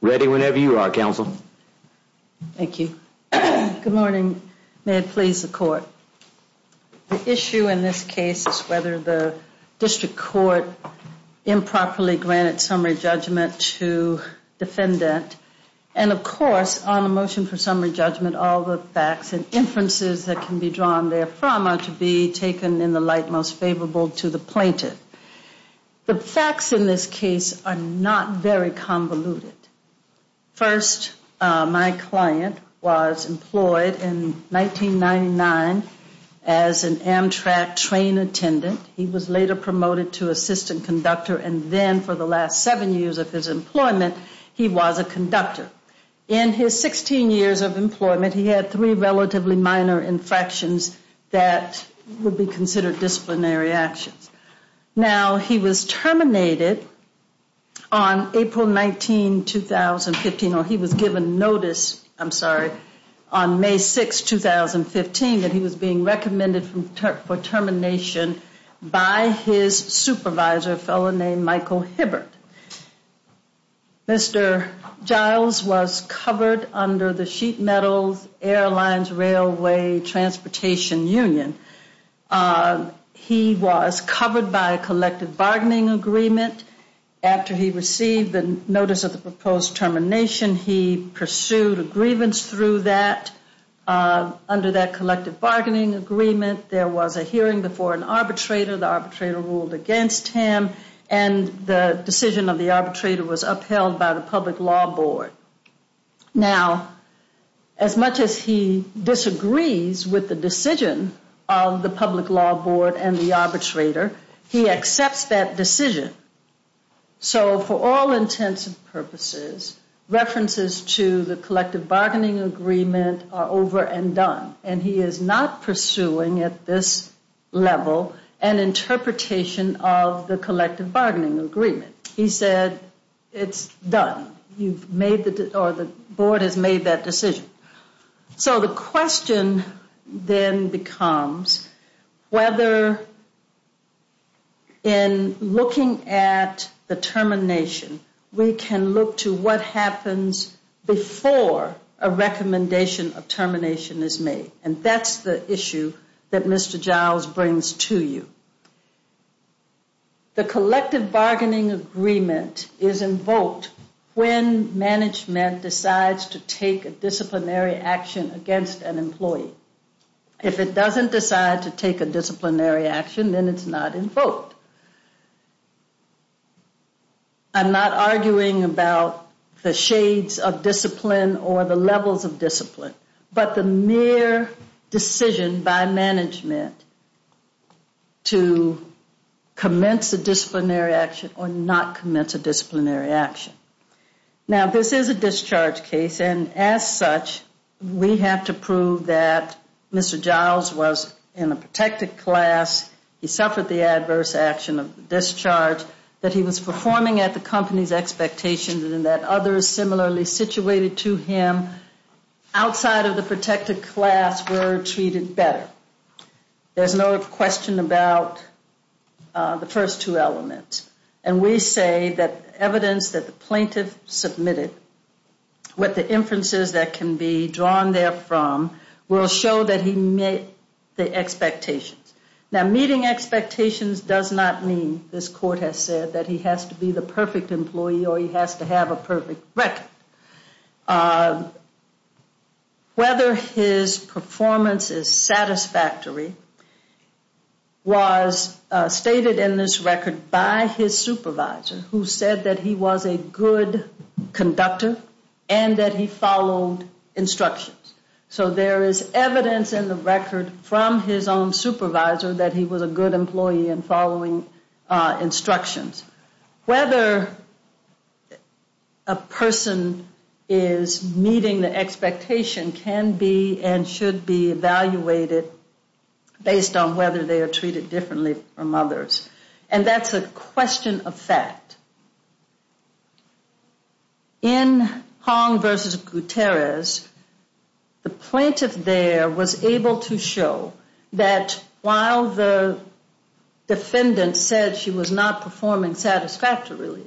Ready whenever you are, Counsel. Thank you. Good morning. May it please the Court. The issue in this case is whether the District Court improperly granted summary judgment to defendant. And, of course, on the motion for summary judgment, all the facts and inferences that can be drawn therefrom are to be taken in the light most favorable to the plaintiff. The facts in this case are not very convoluted. First, my client was employed in 1999 as an Amtrak train attendant. He was later promoted to assistant conductor, and then for the last seven years of his employment, he was a conductor. In his 16 years of employment, he had three relatively minor infractions that would be considered disciplinary actions. Now, he was terminated on April 19, 2015, or he was given notice, I'm sorry, on May 6, 2015, that he was being recommended for termination by his supervisor, a fellow named Michael Hibbert. Mr. Giles was covered under the Sheet Metal Airlines Railway Transportation Union. He was covered by a collective bargaining agreement. After he received the notice of the proposed termination, he pursued a grievance through that. Under that collective bargaining agreement, there was a hearing before an arbitrator. The arbitrator ruled against him, and the decision of the arbitrator was upheld by the public law board. Now, as much as he disagrees with the decision of the public law board and the arbitrator, he accepts that decision. So for all intents and purposes, references to the collective bargaining agreement are over and done, and he is not pursuing at this level an interpretation of the collective bargaining agreement. He said, it's done. You've made the, or the board has made that decision. So the question then becomes whether in looking at the termination, we can look to what happens before a recommendation of termination is made, and that's the issue that Mr. Giles brings to you. The collective bargaining agreement is invoked when management decides to take a disciplinary action against an employee. If it doesn't decide to take a disciplinary action, then it's not invoked. I'm not arguing about the shades of discipline or the levels of discipline, but the mere decision by management to commence a disciplinary action or not commence a disciplinary action. Now, this is a discharge case, and as such, we have to prove that Mr. Giles was in a protected class, he suffered the adverse action of discharge, that he was performing at the company's expectations, and that others similarly situated to him outside of the protected class were treated better. There's no question about the first two elements. And we say that evidence that the plaintiff submitted, what the inferences that can be drawn there from, Now, meeting expectations does not mean, this court has said, that he has to be the perfect employee or he has to have a perfect record. Whether his performance is satisfactory was stated in this record by his supervisor, who said that he was a good conductor and that he followed instructions. So there is evidence in the record from his own supervisor that he was a good employee and following instructions. Whether a person is meeting the expectation can be and should be evaluated based on whether they are treated differently from others. And that's a question of fact. In Hong versus Gutierrez, the plaintiff there was able to show that while the defendant said she was not performing satisfactorily,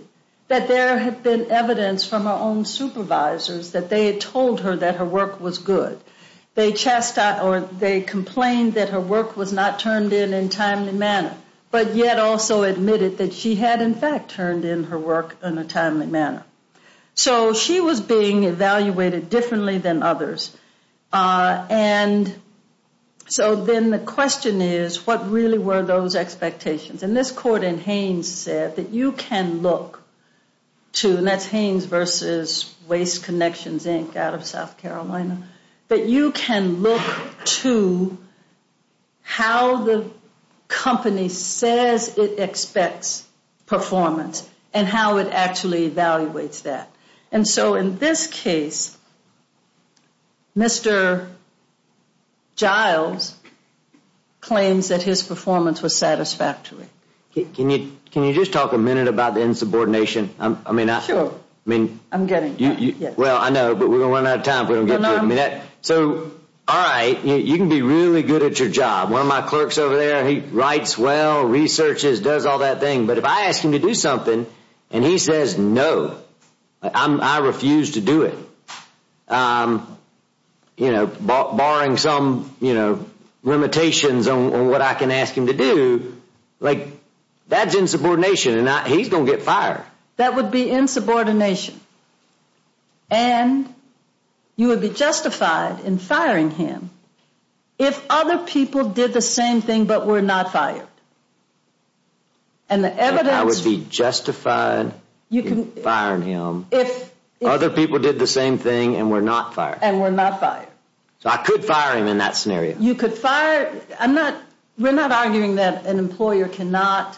that there had been evidence from her own supervisors that they had told her that her work was good. They complained that her work was not turned in in a timely manner, but yet also admitted that she had in fact turned in her work in a timely manner. So she was being evaluated differently than others. And so then the question is, what really were those expectations? And this court in Haynes said that you can look to, and that's Haynes versus Waste Connections Inc. out of South Carolina, that you can look to how the company says it expects performance and how it actually evaluates that. And so in this case, Mr. Giles claims that his performance was satisfactory. Can you just talk a minute about the insubordination? Sure. Well, I know, but we're going to run out of time if we don't get to it. So, all right, you can be really good at your job. One of my clerks over there, he writes well, researches, does all that thing. But if I ask him to do something and he says no, I refuse to do it, barring some limitations on what I can ask him to do, that's insubordination and he's going to get fired. That would be insubordination. And you would be justified in firing him if other people did the same thing but were not fired. I would be justified in firing him if other people did the same thing and were not fired. And were not fired. So I could fire him in that scenario. We're not arguing that an employer cannot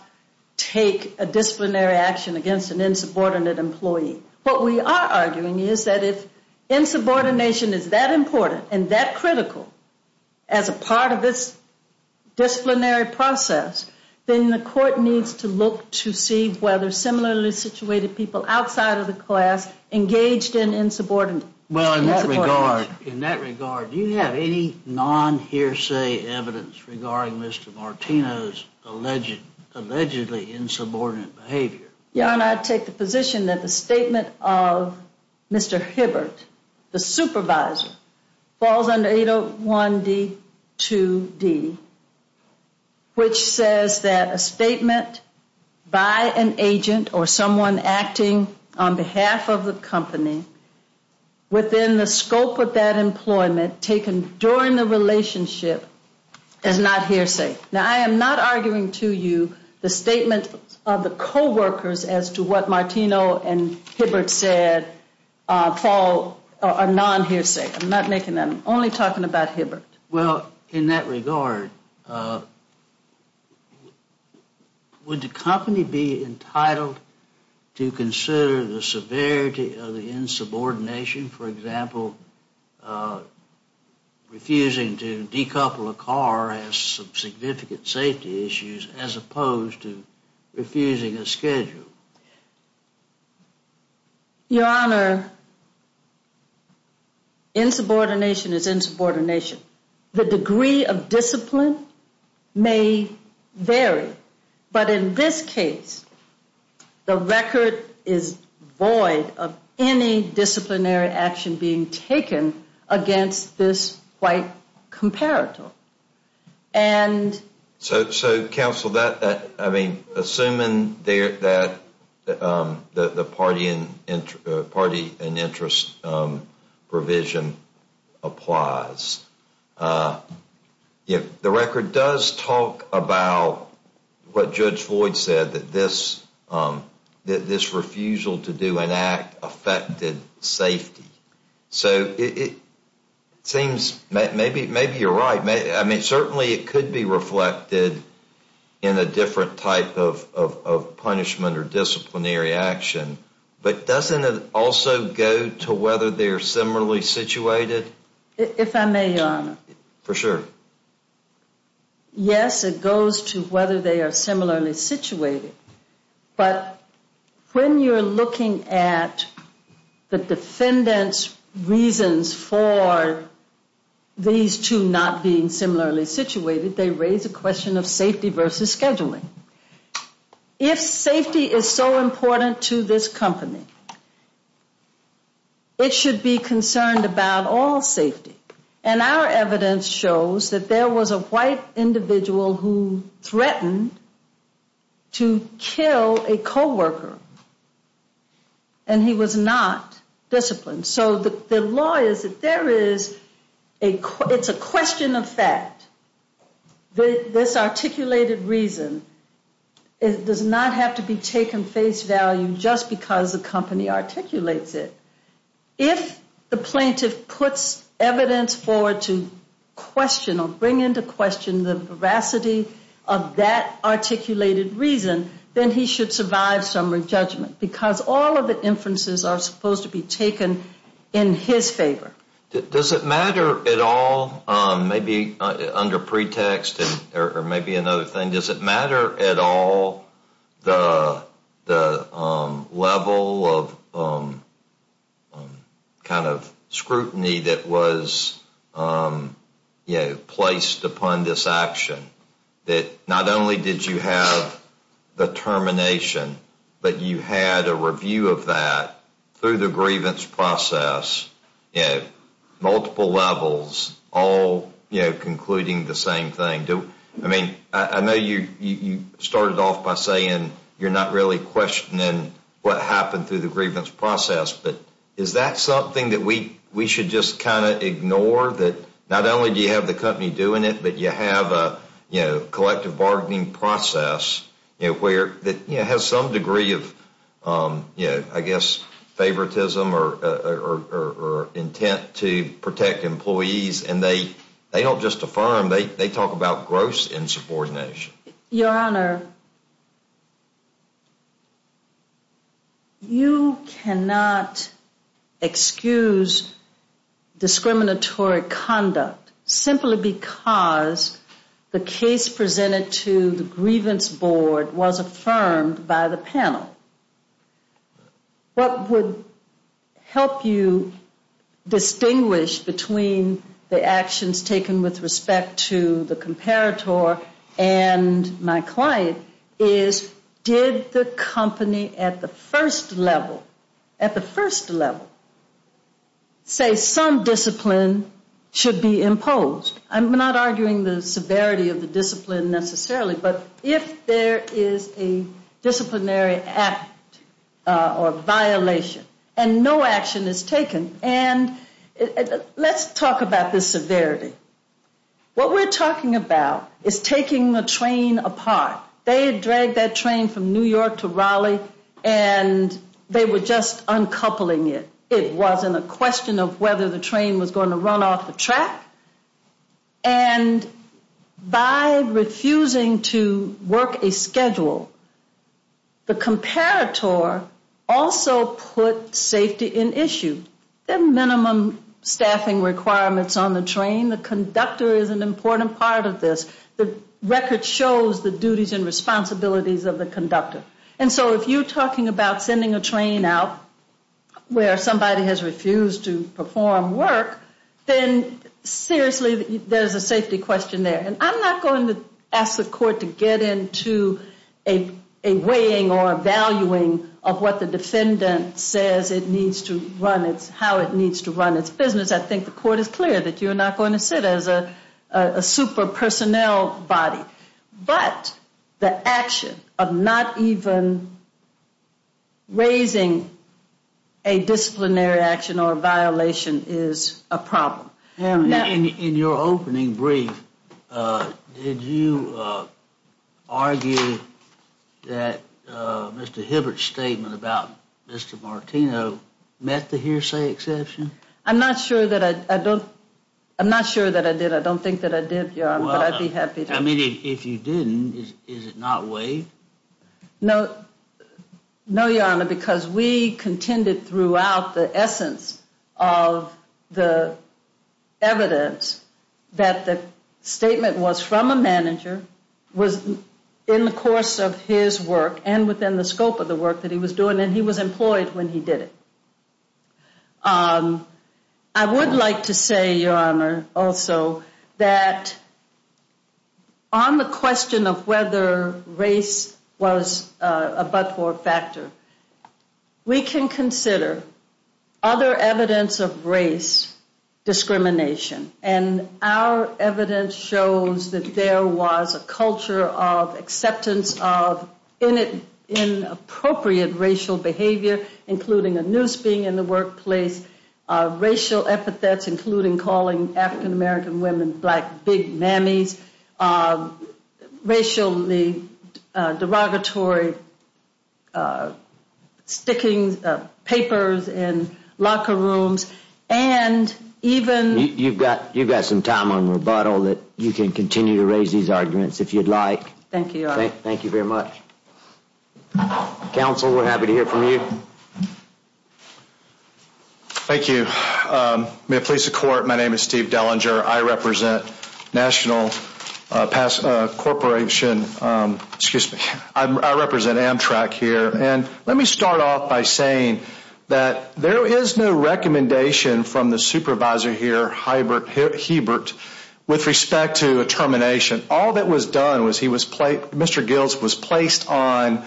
take a disciplinary action against an insubordinate employee. What we are arguing is that if insubordination is that important and that critical as a part of this disciplinary process, then the court needs to look to see whether similarly situated people outside of the class engaged in insubordination. Well, in that regard, do you have any non-hearsay evidence regarding Mr. Martino's allegedly insubordinate behavior? Your Honor, I take the position that the statement of Mr. Hibbert, the supervisor, falls under 801D2D, which says that a statement by an agent or someone acting on behalf of the company within the scope of that employment taken during the relationship is not hearsay. Now, I am not arguing to you the statement of the coworkers as to what Martino and Hibbert said fall a non-hearsay. I'm not making that. I'm only talking about Hibbert. Well, in that regard, would the company be entitled to consider the severity of the insubordination? For example, refusing to decouple a car has some significant safety issues as opposed to refusing a schedule. Your Honor, insubordination is insubordination. The degree of discipline may vary, but in this case, the record is void of any disciplinary action being taken against this white comparator. And? So, counsel, I mean, assuming that the party and interest provision applies, the record does talk about what Judge Floyd said, that this refusal to do an act affected safety. So it seems maybe you're right. I mean, certainly it could be reflected in a different type of punishment or disciplinary action. But doesn't it also go to whether they're similarly situated? If I may, Your Honor. For sure. Yes, it goes to whether they are similarly situated. But when you're looking at the defendant's reasons for these two not being similarly situated, they raise a question of safety versus scheduling. If safety is so important to this company, it should be concerned about all safety. And our evidence shows that there was a white individual who threatened to kill a coworker. And he was not disciplined. So the law is that there is a question of fact. This articulated reason does not have to be taken face value just because the company articulates it. If the plaintiff puts evidence forward to question or bring into question the veracity of that articulated reason, then he should survive summary judgment because all of the inferences are supposed to be taken in his favor. Does it matter at all, maybe under pretext or maybe another thing, does it matter at all the level of kind of scrutiny that was placed upon this action? That not only did you have the termination, but you had a review of that through the grievance process at multiple levels, all concluding the same thing. I mean, I know you started off by saying you're not really questioning what happened through the grievance process, but is that something that we should just kind of ignore that not only do you have the company doing it, but you have a collective bargaining process that has some degree of, I guess, favoritism or intent to protect employees. And they don't just affirm. They talk about gross insubordination. Your Honor, you cannot excuse discriminatory conduct simply because the case presented to the grievance board was affirmed by the panel. What would help you distinguish between the actions taken with respect to the comparator and my client is, did the company at the first level, at the first level, say some discipline should be imposed? I'm not arguing the severity of the discipline necessarily, but if there is a disciplinary act or violation and no action is taken, and let's talk about the severity. What we're talking about is taking the train apart. They had dragged that train from New York to Raleigh, and they were just uncoupling it. It wasn't a question of whether the train was going to run off the track. And by refusing to work a schedule, the comparator also put safety in issue. There are minimum staffing requirements on the train. The conductor is an important part of this. The record shows the duties and responsibilities of the conductor. And so if you're talking about sending a train out where somebody has refused to perform work, then seriously, there's a safety question there. And I'm not going to ask the court to get into a weighing or a valuing of what the defendant says it needs to run, how it needs to run its business. I think the court is clear that you're not going to sit as a super personnel body. But the action of not even raising a disciplinary action or a violation is a problem. In your opening brief, did you argue that Mr. Hibbert's statement about Mr. Martino met the hearsay exception? I'm not sure that I did. I don't think that I did, but I'd be happy to. I mean, if you didn't, is it not waived? No, Your Honor, because we contended throughout the essence of the evidence that the statement was from a manager, was in the course of his work and within the scope of the work that he was doing, and he was employed when he did it. I would like to say, Your Honor, also, that on the question of whether race was a but-for factor, we can consider other evidence of race discrimination. And our evidence shows that there was a culture of acceptance of inappropriate racial behavior, including a noose being in the workplace, racial epithets, including calling African-American women black big mammies, racially derogatory sticking papers in locker rooms, and even— You've got some time on rebuttal that you can continue to raise these arguments if you'd like. Thank you, Your Honor. Thank you very much. Counsel, we're happy to hear from you. Thank you. May it please the Court, my name is Steve Dellinger. I represent National Corporation—excuse me, I represent Amtrak here. And let me start off by saying that there is no recommendation from the supervisor here, Hebert, with respect to a termination. All that was done was he was placed—Mr. Giltz was placed on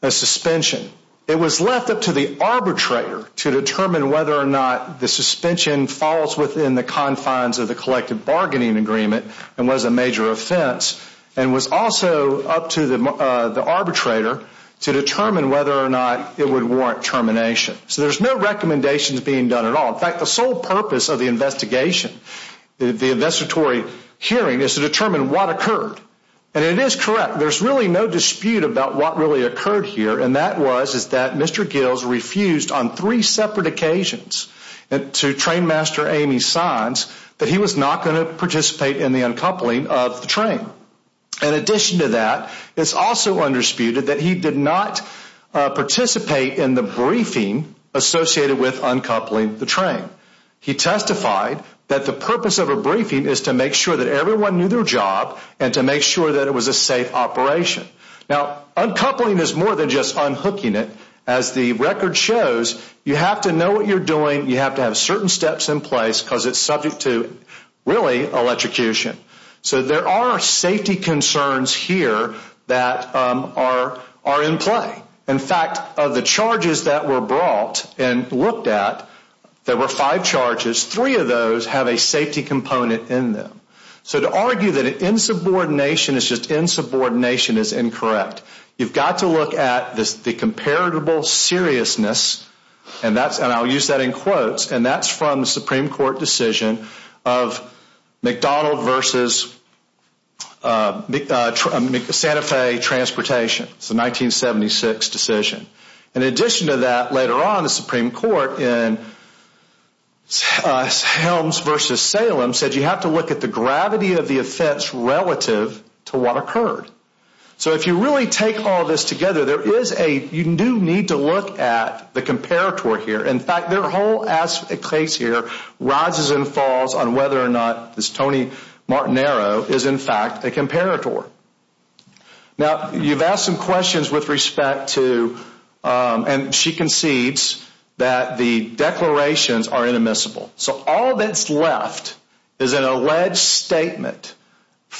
a suspension. It was left up to the arbitrator to determine whether or not the suspension falls within the confines of the collective bargaining agreement and was a major offense, and was also up to the arbitrator to determine whether or not it would warrant termination. So there's no recommendations being done at all. In fact, the sole purpose of the investigation, the investigatory hearing, is to determine what occurred. And it is correct, there's really no dispute about what really occurred here, and that was that Mr. Giltz refused on three separate occasions to train master Amy Saenz that he was not going to participate in the uncoupling of the train. In addition to that, it's also undisputed that he did not participate in the briefing associated with uncoupling the train. He testified that the purpose of a briefing is to make sure that everyone knew their job and to make sure that it was a safe operation. Now, uncoupling is more than just unhooking it. As the record shows, you have to know what you're doing, you have to have certain steps in place, because it's subject to, really, electrocution. So there are safety concerns here that are in play. In fact, of the charges that were brought and looked at, there were five charges. Three of those have a safety component in them. So to argue that insubordination is just insubordination is incorrect. You've got to look at the comparable seriousness, and I'll use that in quotes, and that's from the Supreme Court decision of McDonald versus Santa Fe Transportation. It's a 1976 decision. In addition to that, later on, the Supreme Court, in Helms versus Salem, said you have to look at the gravity of the offense relative to what occurred. So if you really take all this together, you do need to look at the comparator here. In fact, their whole case here rises and falls on whether or not this Tony Martinero is, in fact, a comparator. Now, you've asked some questions with respect to, and she concedes, that the declarations are inadmissible. So all that's left is an alleged statement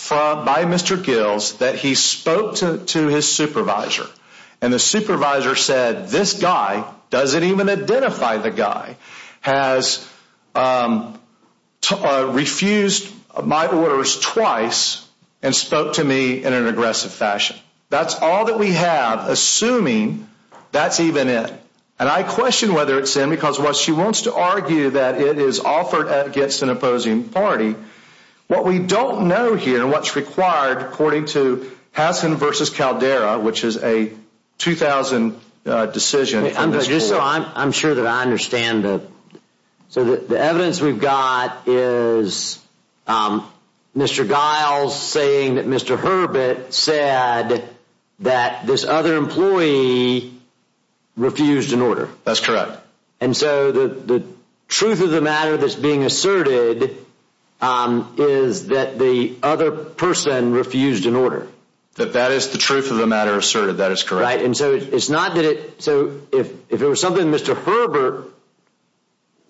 by Mr. Gills that he spoke to his supervisor, and the supervisor said this guy doesn't even identify the guy, has refused my orders twice, and spoke to me in an aggressive fashion. That's all that we have, assuming that's even it. And I question whether it's in, because while she wants to argue that it is offered against an opposing party, what we don't know here, and what's required according to Hassan versus Caldera, which is a 2000 decision from this court. I'm sure that I understand. So the evidence we've got is Mr. Giles saying that Mr. Herbert said that this other employee refused an order. That's correct. And so the truth of the matter that's being asserted is that the other person refused an order. That that is the truth of the matter asserted. That is correct. Right, and so it's not that it, so if it was something Mr. Herbert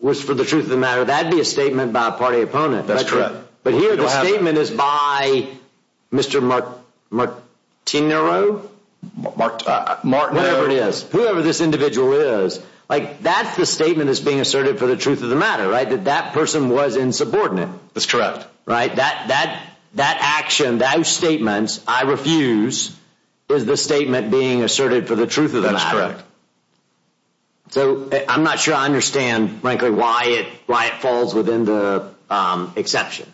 was for the truth of the matter, that'd be a statement by a party opponent. That's correct. But here the statement is by Mr. Martinero? Martinero. Whoever it is, whoever this individual is, like that's the statement that's being asserted for the truth of the matter, right? That that person was insubordinate. That's correct. Right, that action, those statements, I refuse, is the statement being asserted for the truth of the matter. That's correct. So I'm not sure I understand, frankly, why it falls within the exception.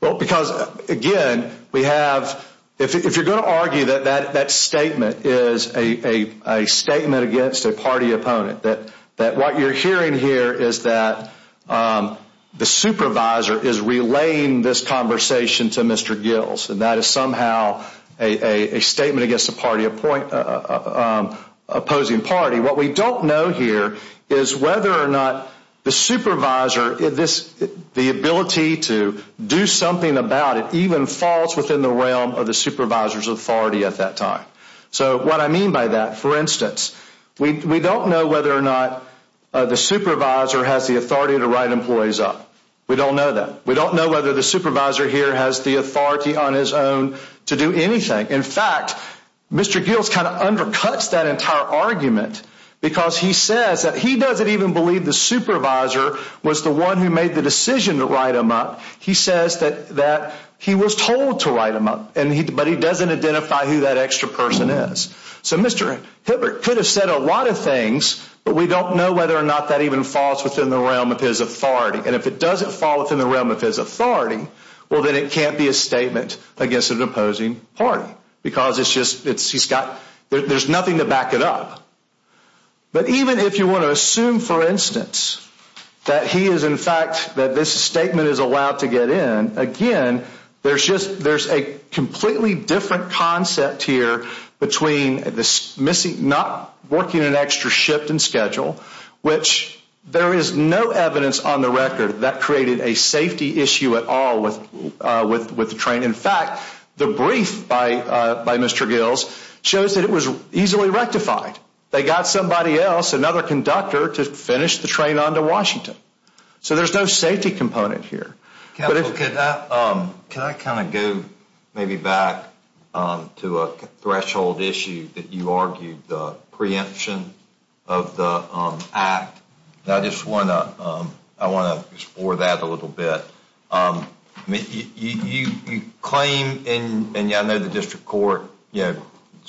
Well, because, again, we have, if you're going to argue that that statement is a statement against a party opponent, that what you're hearing here is that the supervisor is relaying this conversation to Mr. Giles, and that is somehow a statement against a party opposing party. What we don't know here is whether or not the supervisor, the ability to do something about it, even falls within the realm of the supervisor's authority at that time. So what I mean by that, for instance, we don't know whether or not the supervisor has the authority to write employees up. We don't know that. We don't know whether the supervisor here has the authority on his own to do anything. In fact, Mr. Giles kind of undercuts that entire argument because he says that he doesn't even believe the supervisor was the one who made the decision to write him up. He says that he was told to write him up, but he doesn't identify who that extra person is. So Mr. Hibbert could have said a lot of things, but we don't know whether or not that even falls within the realm of his authority. And if it doesn't fall within the realm of his authority, well, then it can't be a statement against an opposing party because there's nothing to back it up. But even if you want to assume, for instance, that this statement is allowed to get in, again, there's a completely different concept here between not working an extra shift in schedule, which there is no evidence on the record that created a safety issue at all with the train. In fact, the brief by Mr. Giles shows that it was easily rectified. They got somebody else, another conductor, to finish the train onto Washington. So there's no safety component here. Can I kind of go maybe back to a threshold issue that you argued, the preemption of the act? I want to explore that a little bit. You claim, and I know the district court is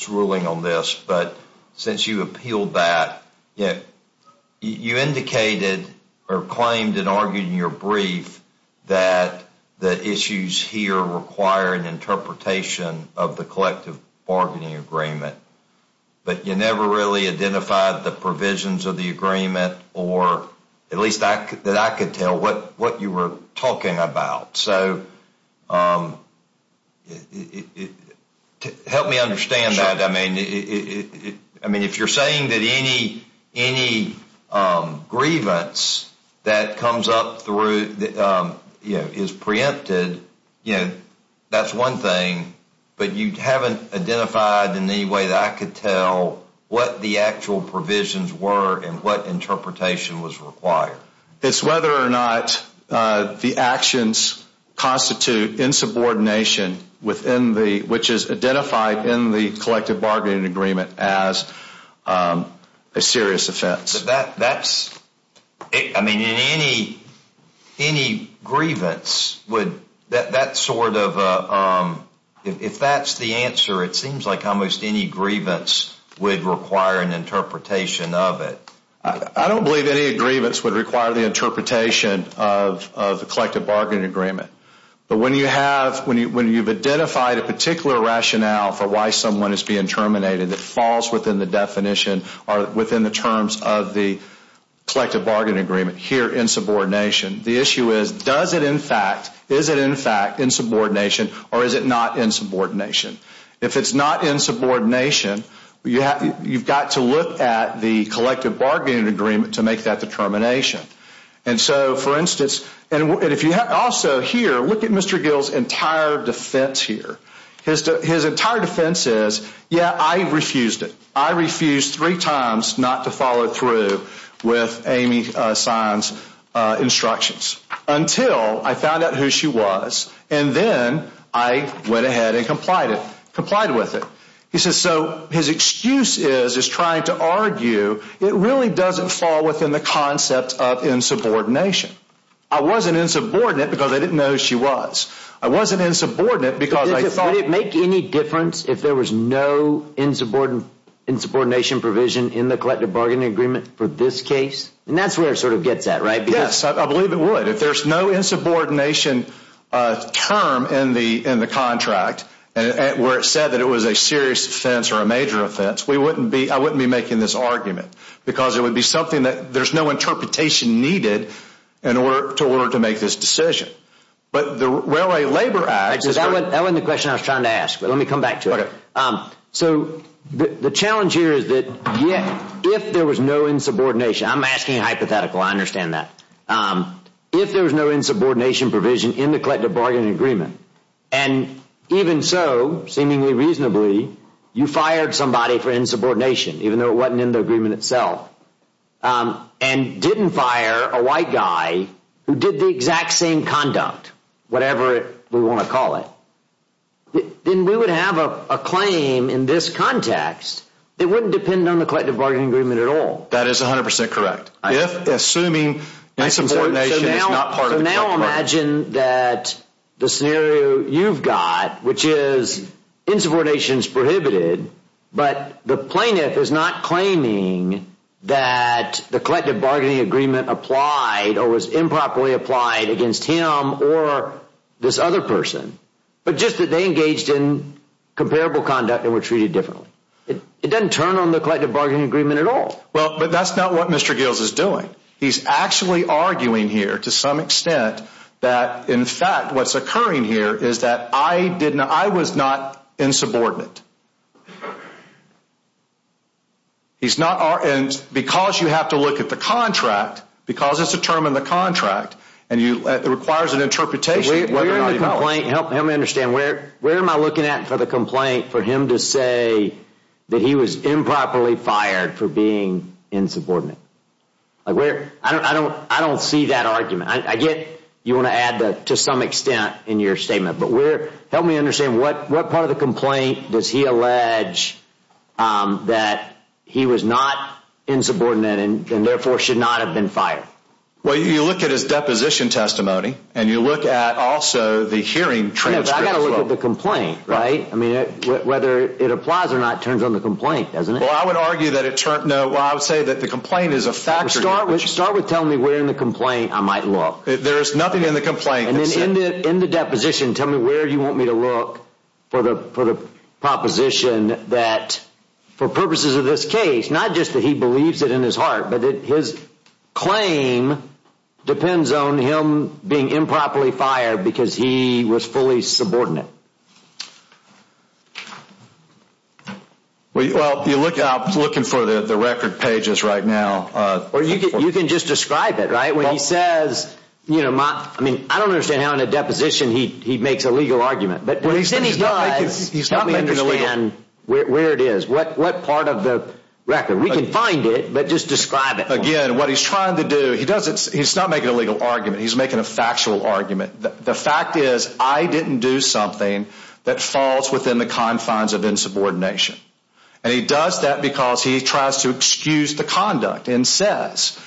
ruling on this, but since you appealed that, you indicated or claimed and argued in your brief that the issues here require an interpretation of the collective bargaining agreement. But you never really identified the provisions of the agreement, or at least that I could tell, what you were talking about. So help me understand that. I mean, if you're saying that any grievance that comes up is preempted, that's one thing. But you haven't identified in any way that I could tell what the actual provisions were and what interpretation was required. It's whether or not the actions constitute insubordination, which is identified in the collective bargaining agreement, as a serious offense. I mean, in any grievance, if that's the answer, it seems like almost any grievance would require an interpretation of it. I don't believe any grievance would require the interpretation of the collective bargaining agreement. But when you've identified a particular rationale for why someone is being terminated that falls within the definition or within the terms of the collective bargaining agreement, here, insubordination, the issue is, does it in fact, is it in fact insubordination, or is it not insubordination? If it's not insubordination, you've got to look at the collective bargaining agreement to make that determination. And so, for instance, and if you have also here, look at Mr. Gill's entire defense here. His entire defense is, yeah, I refused it. He says, so his excuse is, is trying to argue, it really doesn't fall within the concept of insubordination. I wasn't insubordinate because I didn't know who she was. I wasn't insubordinate because I thought Would it make any difference if there was no insubordination provision in the collective bargaining agreement for this case? And that's where it sort of gets at, right? Yes, I believe it would. If there's no insubordination term in the contract where it said that it was a serious offense or a major offense, I wouldn't be making this argument because it would be something that there's no interpretation needed in order to make this decision. But the Railway Labor Act That wasn't the question I was trying to ask, but let me come back to it. So the challenge here is that if there was no insubordination, I'm asking hypothetical, I understand that. If there was no insubordination provision in the collective bargaining agreement, and even so, seemingly reasonably, you fired somebody for insubordination, even though it wasn't in the agreement itself, and didn't fire a white guy who did the exact same conduct, whatever we want to call it, then we would have a claim in this context that wouldn't depend on the collective bargaining agreement at all. That is 100% correct. Assuming insubordination is not part of the contract. I don't imagine that the scenario you've got, which is insubordination is prohibited, but the plaintiff is not claiming that the collective bargaining agreement applied or was improperly applied against him or this other person, but just that they engaged in comparable conduct and were treated differently. It doesn't turn on the collective bargaining agreement at all. But that's not what Mr. Gills is doing. He's actually arguing here to some extent that, in fact, what's occurring here is that I was not insubordinate. He's not, and because you have to look at the contract, because it's a term in the contract, and it requires an interpretation of whether or not he fell. Help me understand. Where am I looking at for the complaint for him to say that he was improperly fired for being insubordinate? I don't see that argument. I get you want to add to some extent in your statement, but help me understand. What part of the complaint does he allege that he was not insubordinate and therefore should not have been fired? Well, you look at his deposition testimony, and you look at also the hearing transcripts. I've got to look at the complaint, right? I mean, whether it applies or not turns on the complaint, doesn't it? Well, I would say that the complaint is a factor. Start with telling me where in the complaint I might look. There is nothing in the complaint that says— And then in the deposition, tell me where you want me to look for the proposition that, for purposes of this case, not just that he believes it in his heart, but that his claim depends on him being improperly fired because he was fully subordinate. Well, you're looking for the record pages right now. Or you can just describe it, right? When he says—I mean, I don't understand how in a deposition he makes a legal argument. But when he does, help me understand where it is. What part of the record? We can find it, but just describe it. Again, what he's trying to do—he's not making a legal argument. He's making a factual argument. The fact is I didn't do something that falls within the confines of insubordination. And he does that because he tries to excuse the conduct and says,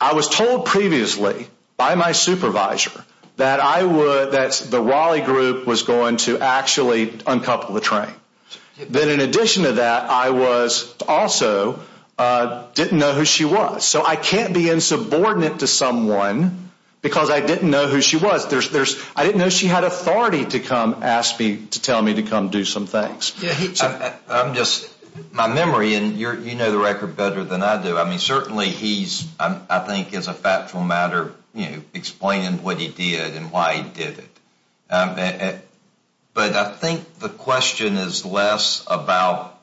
I was told previously by my supervisor that the Raleigh group was going to actually uncouple the train. Then in addition to that, I also didn't know who she was. So I can't be insubordinate to someone because I didn't know who she was. I didn't know she had authority to come ask me to tell me to come do some things. I'm just—my memory, and you know the record better than I do. I mean, certainly he's, I think, as a factual matter, you know, explaining what he did and why he did it. But I think the question is less about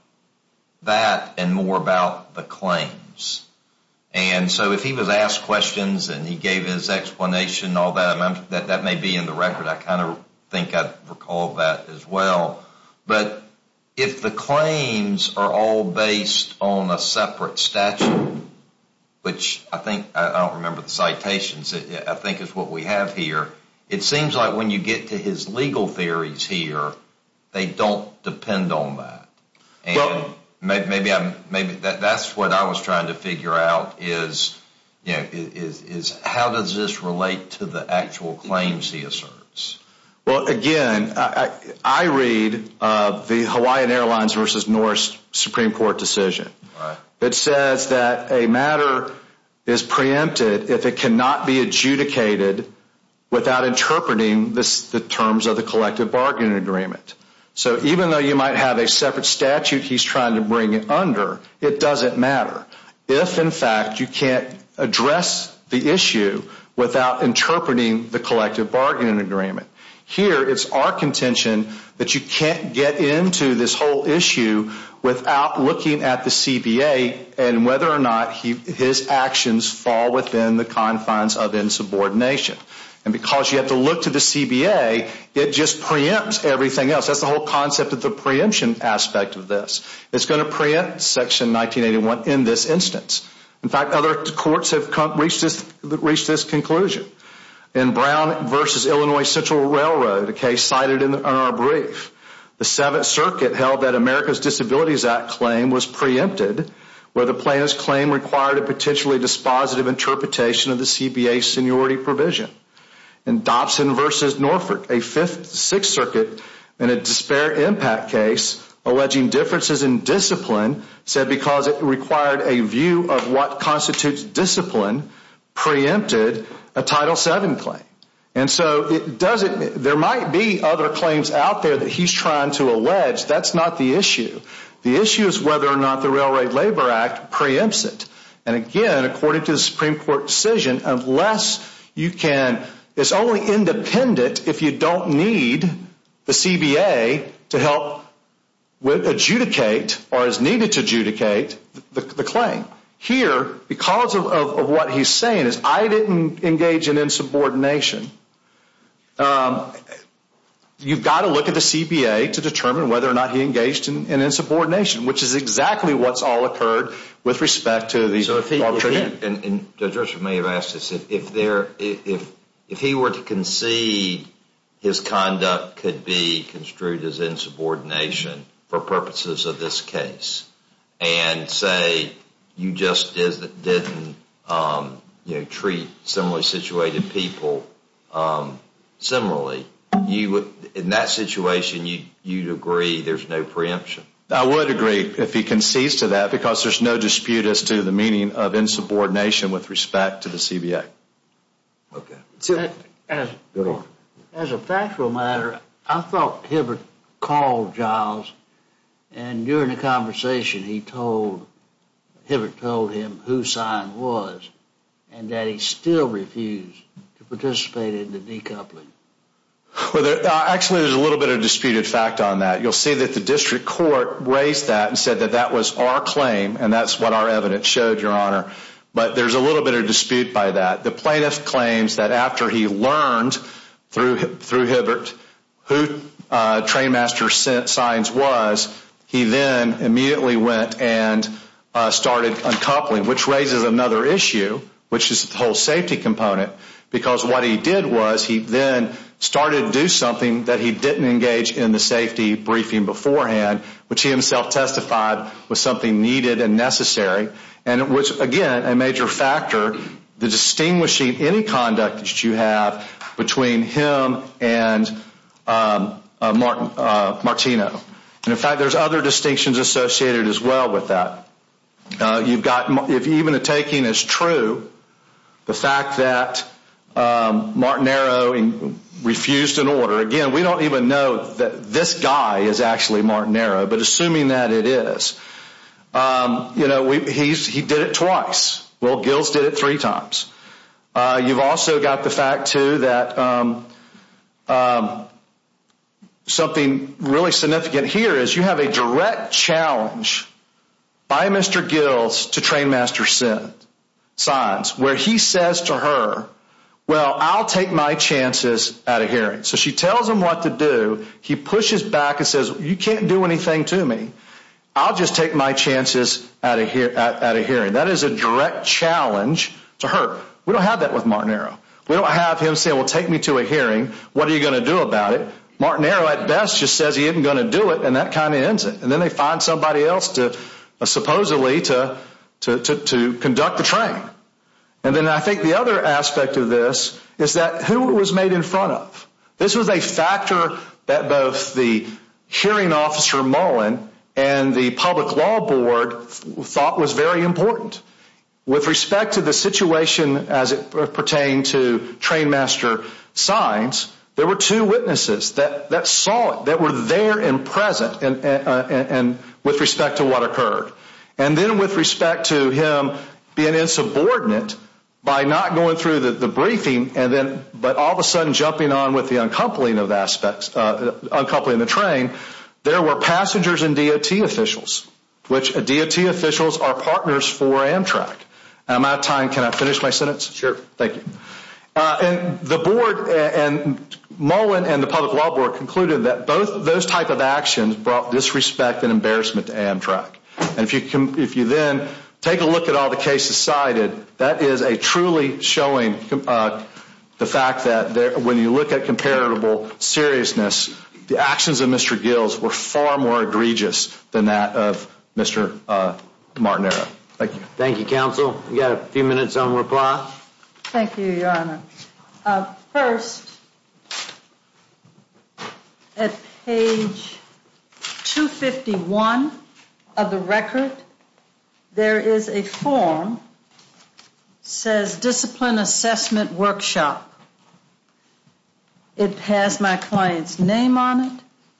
that and more about the claims. And so if he was asked questions and he gave his explanation and all that, that may be in the record. I kind of think I recall that as well. But if the claims are all based on a separate statute, which I think—I don't remember the citations—I think is what we have here, it seems like when you get to his legal theories here, they don't depend on that. And maybe that's what I was trying to figure out is, you know, how does this relate to the actual claims he asserts? Well, again, I read the Hawaiian Airlines v. Norris Supreme Court decision. It says that a matter is preempted if it cannot be adjudicated without interpreting the terms of the collective bargaining agreement. So even though you might have a separate statute he's trying to bring it under, it doesn't matter. If, in fact, you can't address the issue without interpreting the collective bargaining agreement. Here, it's our contention that you can't get into this whole issue without looking at the CBA and whether or not his actions fall within the confines of insubordination. And because you have to look to the CBA, it just preempts everything else. That's the whole concept of the preemption aspect of this. It's going to preempt Section 1981 in this instance. In fact, other courts have reached this conclusion. In Brown v. Illinois Central Railroad, a case cited in our brief, the Seventh Circuit held that America's Disabilities Act claim was preempted where the plaintiff's claim required a potentially dispositive interpretation of the CBA seniority provision. In Dobson v. Norfolk, a Fifth and Sixth Circuit in a despair impact case alleging differences in discipline said because it required a view of what constitutes discipline preempted a Title VII claim. And so there might be other claims out there that he's trying to allege. That's not the issue. The issue is whether or not the Railroad Labor Act preempts it. And again, according to the Supreme Court decision, it's only independent if you don't need the CBA to help adjudicate or is needed to adjudicate the claim. Here, because of what he's saying, is I didn't engage in insubordination. You've got to look at the CBA to determine whether or not he engaged in insubordination, which is exactly what's all occurred with respect to the alternative. Judge Russell may have asked this. If he were to concede his conduct could be construed as insubordination for purposes of this case and say you just didn't treat similarly situated people similarly. In that situation, you'd agree there's no preemption? I would agree if he concedes to that because there's no dispute as to the meaning of insubordination with respect to the CBA. Okay. In that situation, Hibbert told him who Sines was and that he still refused to participate in the decoupling. Actually, there's a little bit of disputed fact on that. You'll see that the district court raised that and said that that was our claim and that's what our evidence showed, Your Honor. But there's a little bit of dispute by that. The plaintiff claims that after he learned through Hibbert who Trainmaster Sines was, he then immediately went and started uncoupling, which raises another issue, which is the whole safety component because what he did was he then started to do something that he didn't engage in the safety briefing beforehand, which he himself testified was something needed and necessary, and which, again, a major factor, the distinguishing any conduct that you have between him and Martino. And, in fact, there's other distinctions associated as well with that. If even a taking is true, the fact that Martino refused an order, again, we don't even know that this guy is actually Martino, but assuming that it is, he did it twice. Well, Gills did it three times. You've also got the fact, too, that something really significant here is you have a direct challenge by Mr. Gills to Trainmaster Sines where he says to her, well, I'll take my chances at a hearing. So she tells him what to do. He pushes back and says, you can't do anything to me. I'll just take my chances at a hearing. That is a direct challenge to her. We don't have that with Martinero. We don't have him say, well, take me to a hearing. What are you going to do about it? Martinero, at best, just says he isn't going to do it, and that kind of ends it. And then they find somebody else, supposedly, to conduct the training. And then I think the other aspect of this is that who it was made in front of. This was a factor that both the hearing officer, Mullen, and the public law board thought was very important. With respect to the situation as it pertained to Trainmaster Sines, there were two witnesses that saw it, that were there and present with respect to what occurred. And then with respect to him being insubordinate by not going through the briefing but all of a sudden jumping on with the uncoupling of the train, there were passengers and DOT officials, which DOT officials are partners for Amtrak. Am I out of time? Can I finish my sentence? Sure. Thank you. And the board, and Mullen and the public law board, And if you then take a look at all the cases cited, that is a truly showing the fact that when you look at comparable seriousness, the actions of Mr. Gills were far more egregious than that of Mr. Martinero. Thank you. Thank you, Counsel. We've got a few minutes on reply. Thank you, Your Honor. First, at page 251 of the record, there is a form that says Discipline Assessment Workshop. It has my client's name on it.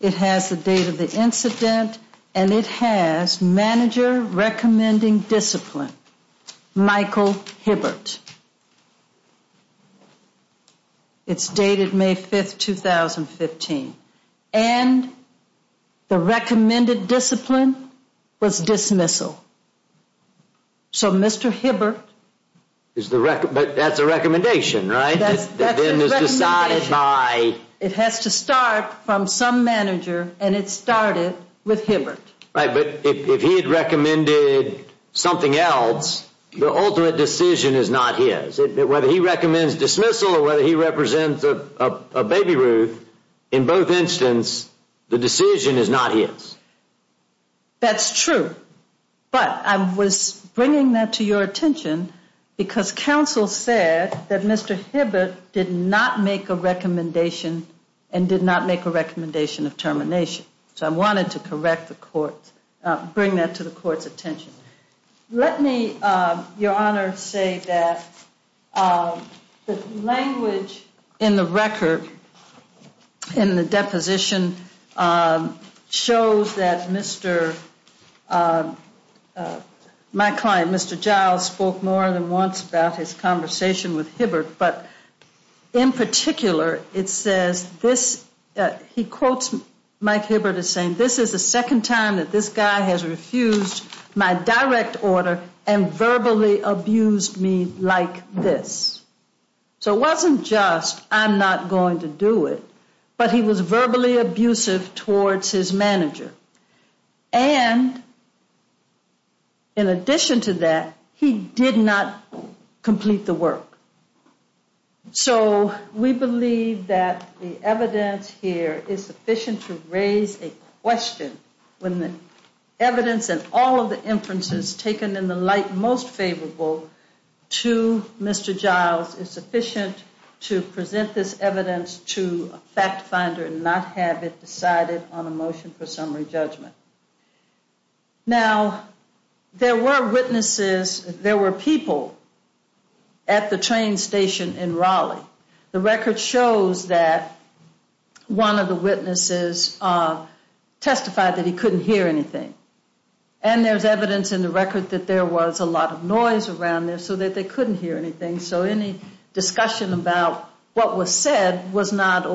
It has the date of the incident. And it has Manager Recommending Discipline, Michael Hibbert. It's dated May 5, 2015. And the recommended discipline was dismissal. So Mr. Hibbert. But that's a recommendation, right? That then is decided by. It has to start from some manager, and it started with Hibbert. Right, but if he had recommended something else, the ultimate decision is not his. Whether he recommends dismissal or whether he represents a baby Ruth, in both instances, the decision is not his. That's true. But I was bringing that to your attention because counsel said that Mr. Hibbert did not make a recommendation and did not make a recommendation of termination. So I wanted to correct the court, bring that to the court's attention. Let me, Your Honor, say that the language in the record, in the deposition, shows that Mr. My client, Mr. Giles, spoke more than once about his conversation with Hibbert. But in particular, it says this, he quotes Mike Hibbert as saying, this is the second time that this guy has refused my direct order and verbally abused me like this. So it wasn't just, I'm not going to do it. But he was verbally abusive towards his manager. And in addition to that, he did not complete the work. So we believe that the evidence here is sufficient to raise a question when the evidence and all of the inferences taken in the light most favorable to Mr. Giles is sufficient to present this evidence to a fact finder and not have it decided on a motion for summary judgment. Now, there were witnesses, there were people at the train station in Raleigh. The record shows that one of the witnesses testified that he couldn't hear anything. And there's evidence in the record that there was a lot of noise around there so that they couldn't hear anything. So any discussion about what was said was not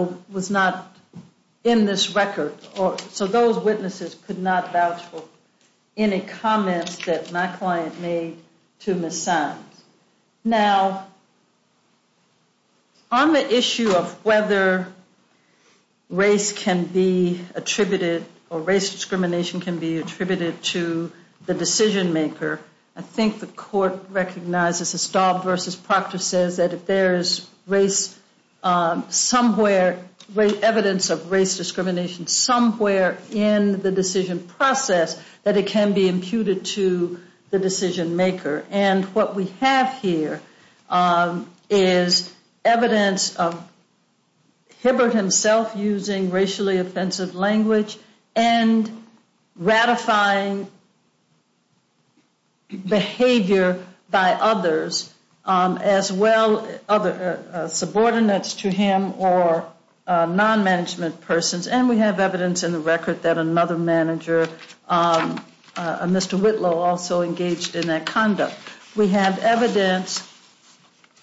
in this record. So those witnesses could not vouch for any comments that my client made to Ms. Simons. Now, on the issue of whether race can be attributed or race discrimination can be attributed to the decision maker, I think the court recognizes Estalve v. Proctor says that if there is race somewhere, evidence of race discrimination somewhere in the decision process, that it can be imputed to the decision maker. And what we have here is evidence of Hibbert himself using racially offensive language and ratifying behavior by others as well, subordinates to him or non-management persons. And we have evidence in the record that another manager, Mr. Whitlow, also engaged in that conduct. We have evidence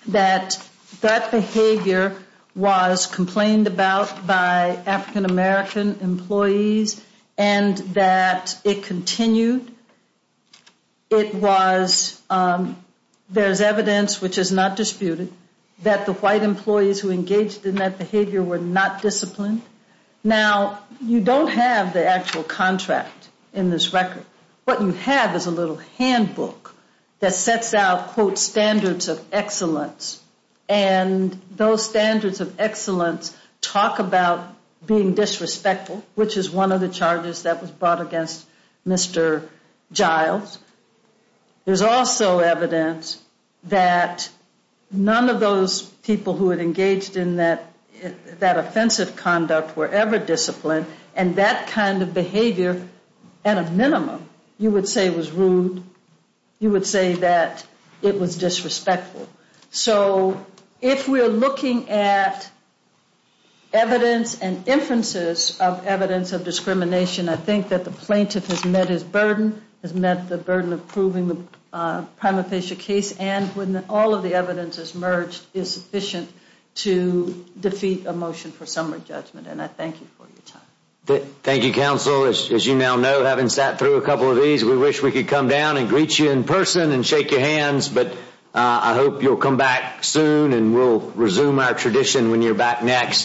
that that behavior was complained about by African-American employees and that it continued. It was, there's evidence which is not disputed, that the white employees who engaged in that behavior were not disciplined. Now, you don't have the actual contract in this record. What you have is a little handbook that sets out, quote, standards of excellence. And those standards of excellence talk about being disrespectful, which is one of the charges that was brought against Mr. Giles. There's also evidence that none of those people who had engaged in that offensive conduct were ever disciplined. And that kind of behavior, at a minimum, you would say was rude. You would say that it was disrespectful. So if we're looking at evidence and inferences of evidence of discrimination, I think that the plaintiff has met his burden, has met the burden of proving the prima facie case, and when all of the evidence is merged, is sufficient to defeat a motion for summary judgment. And I thank you for your time. Thank you, Counsel. As you now know, having sat through a couple of these, we wish we could come down and greet you in person and shake your hands, but I hope you'll come back soon and we'll resume our tradition when you're back next.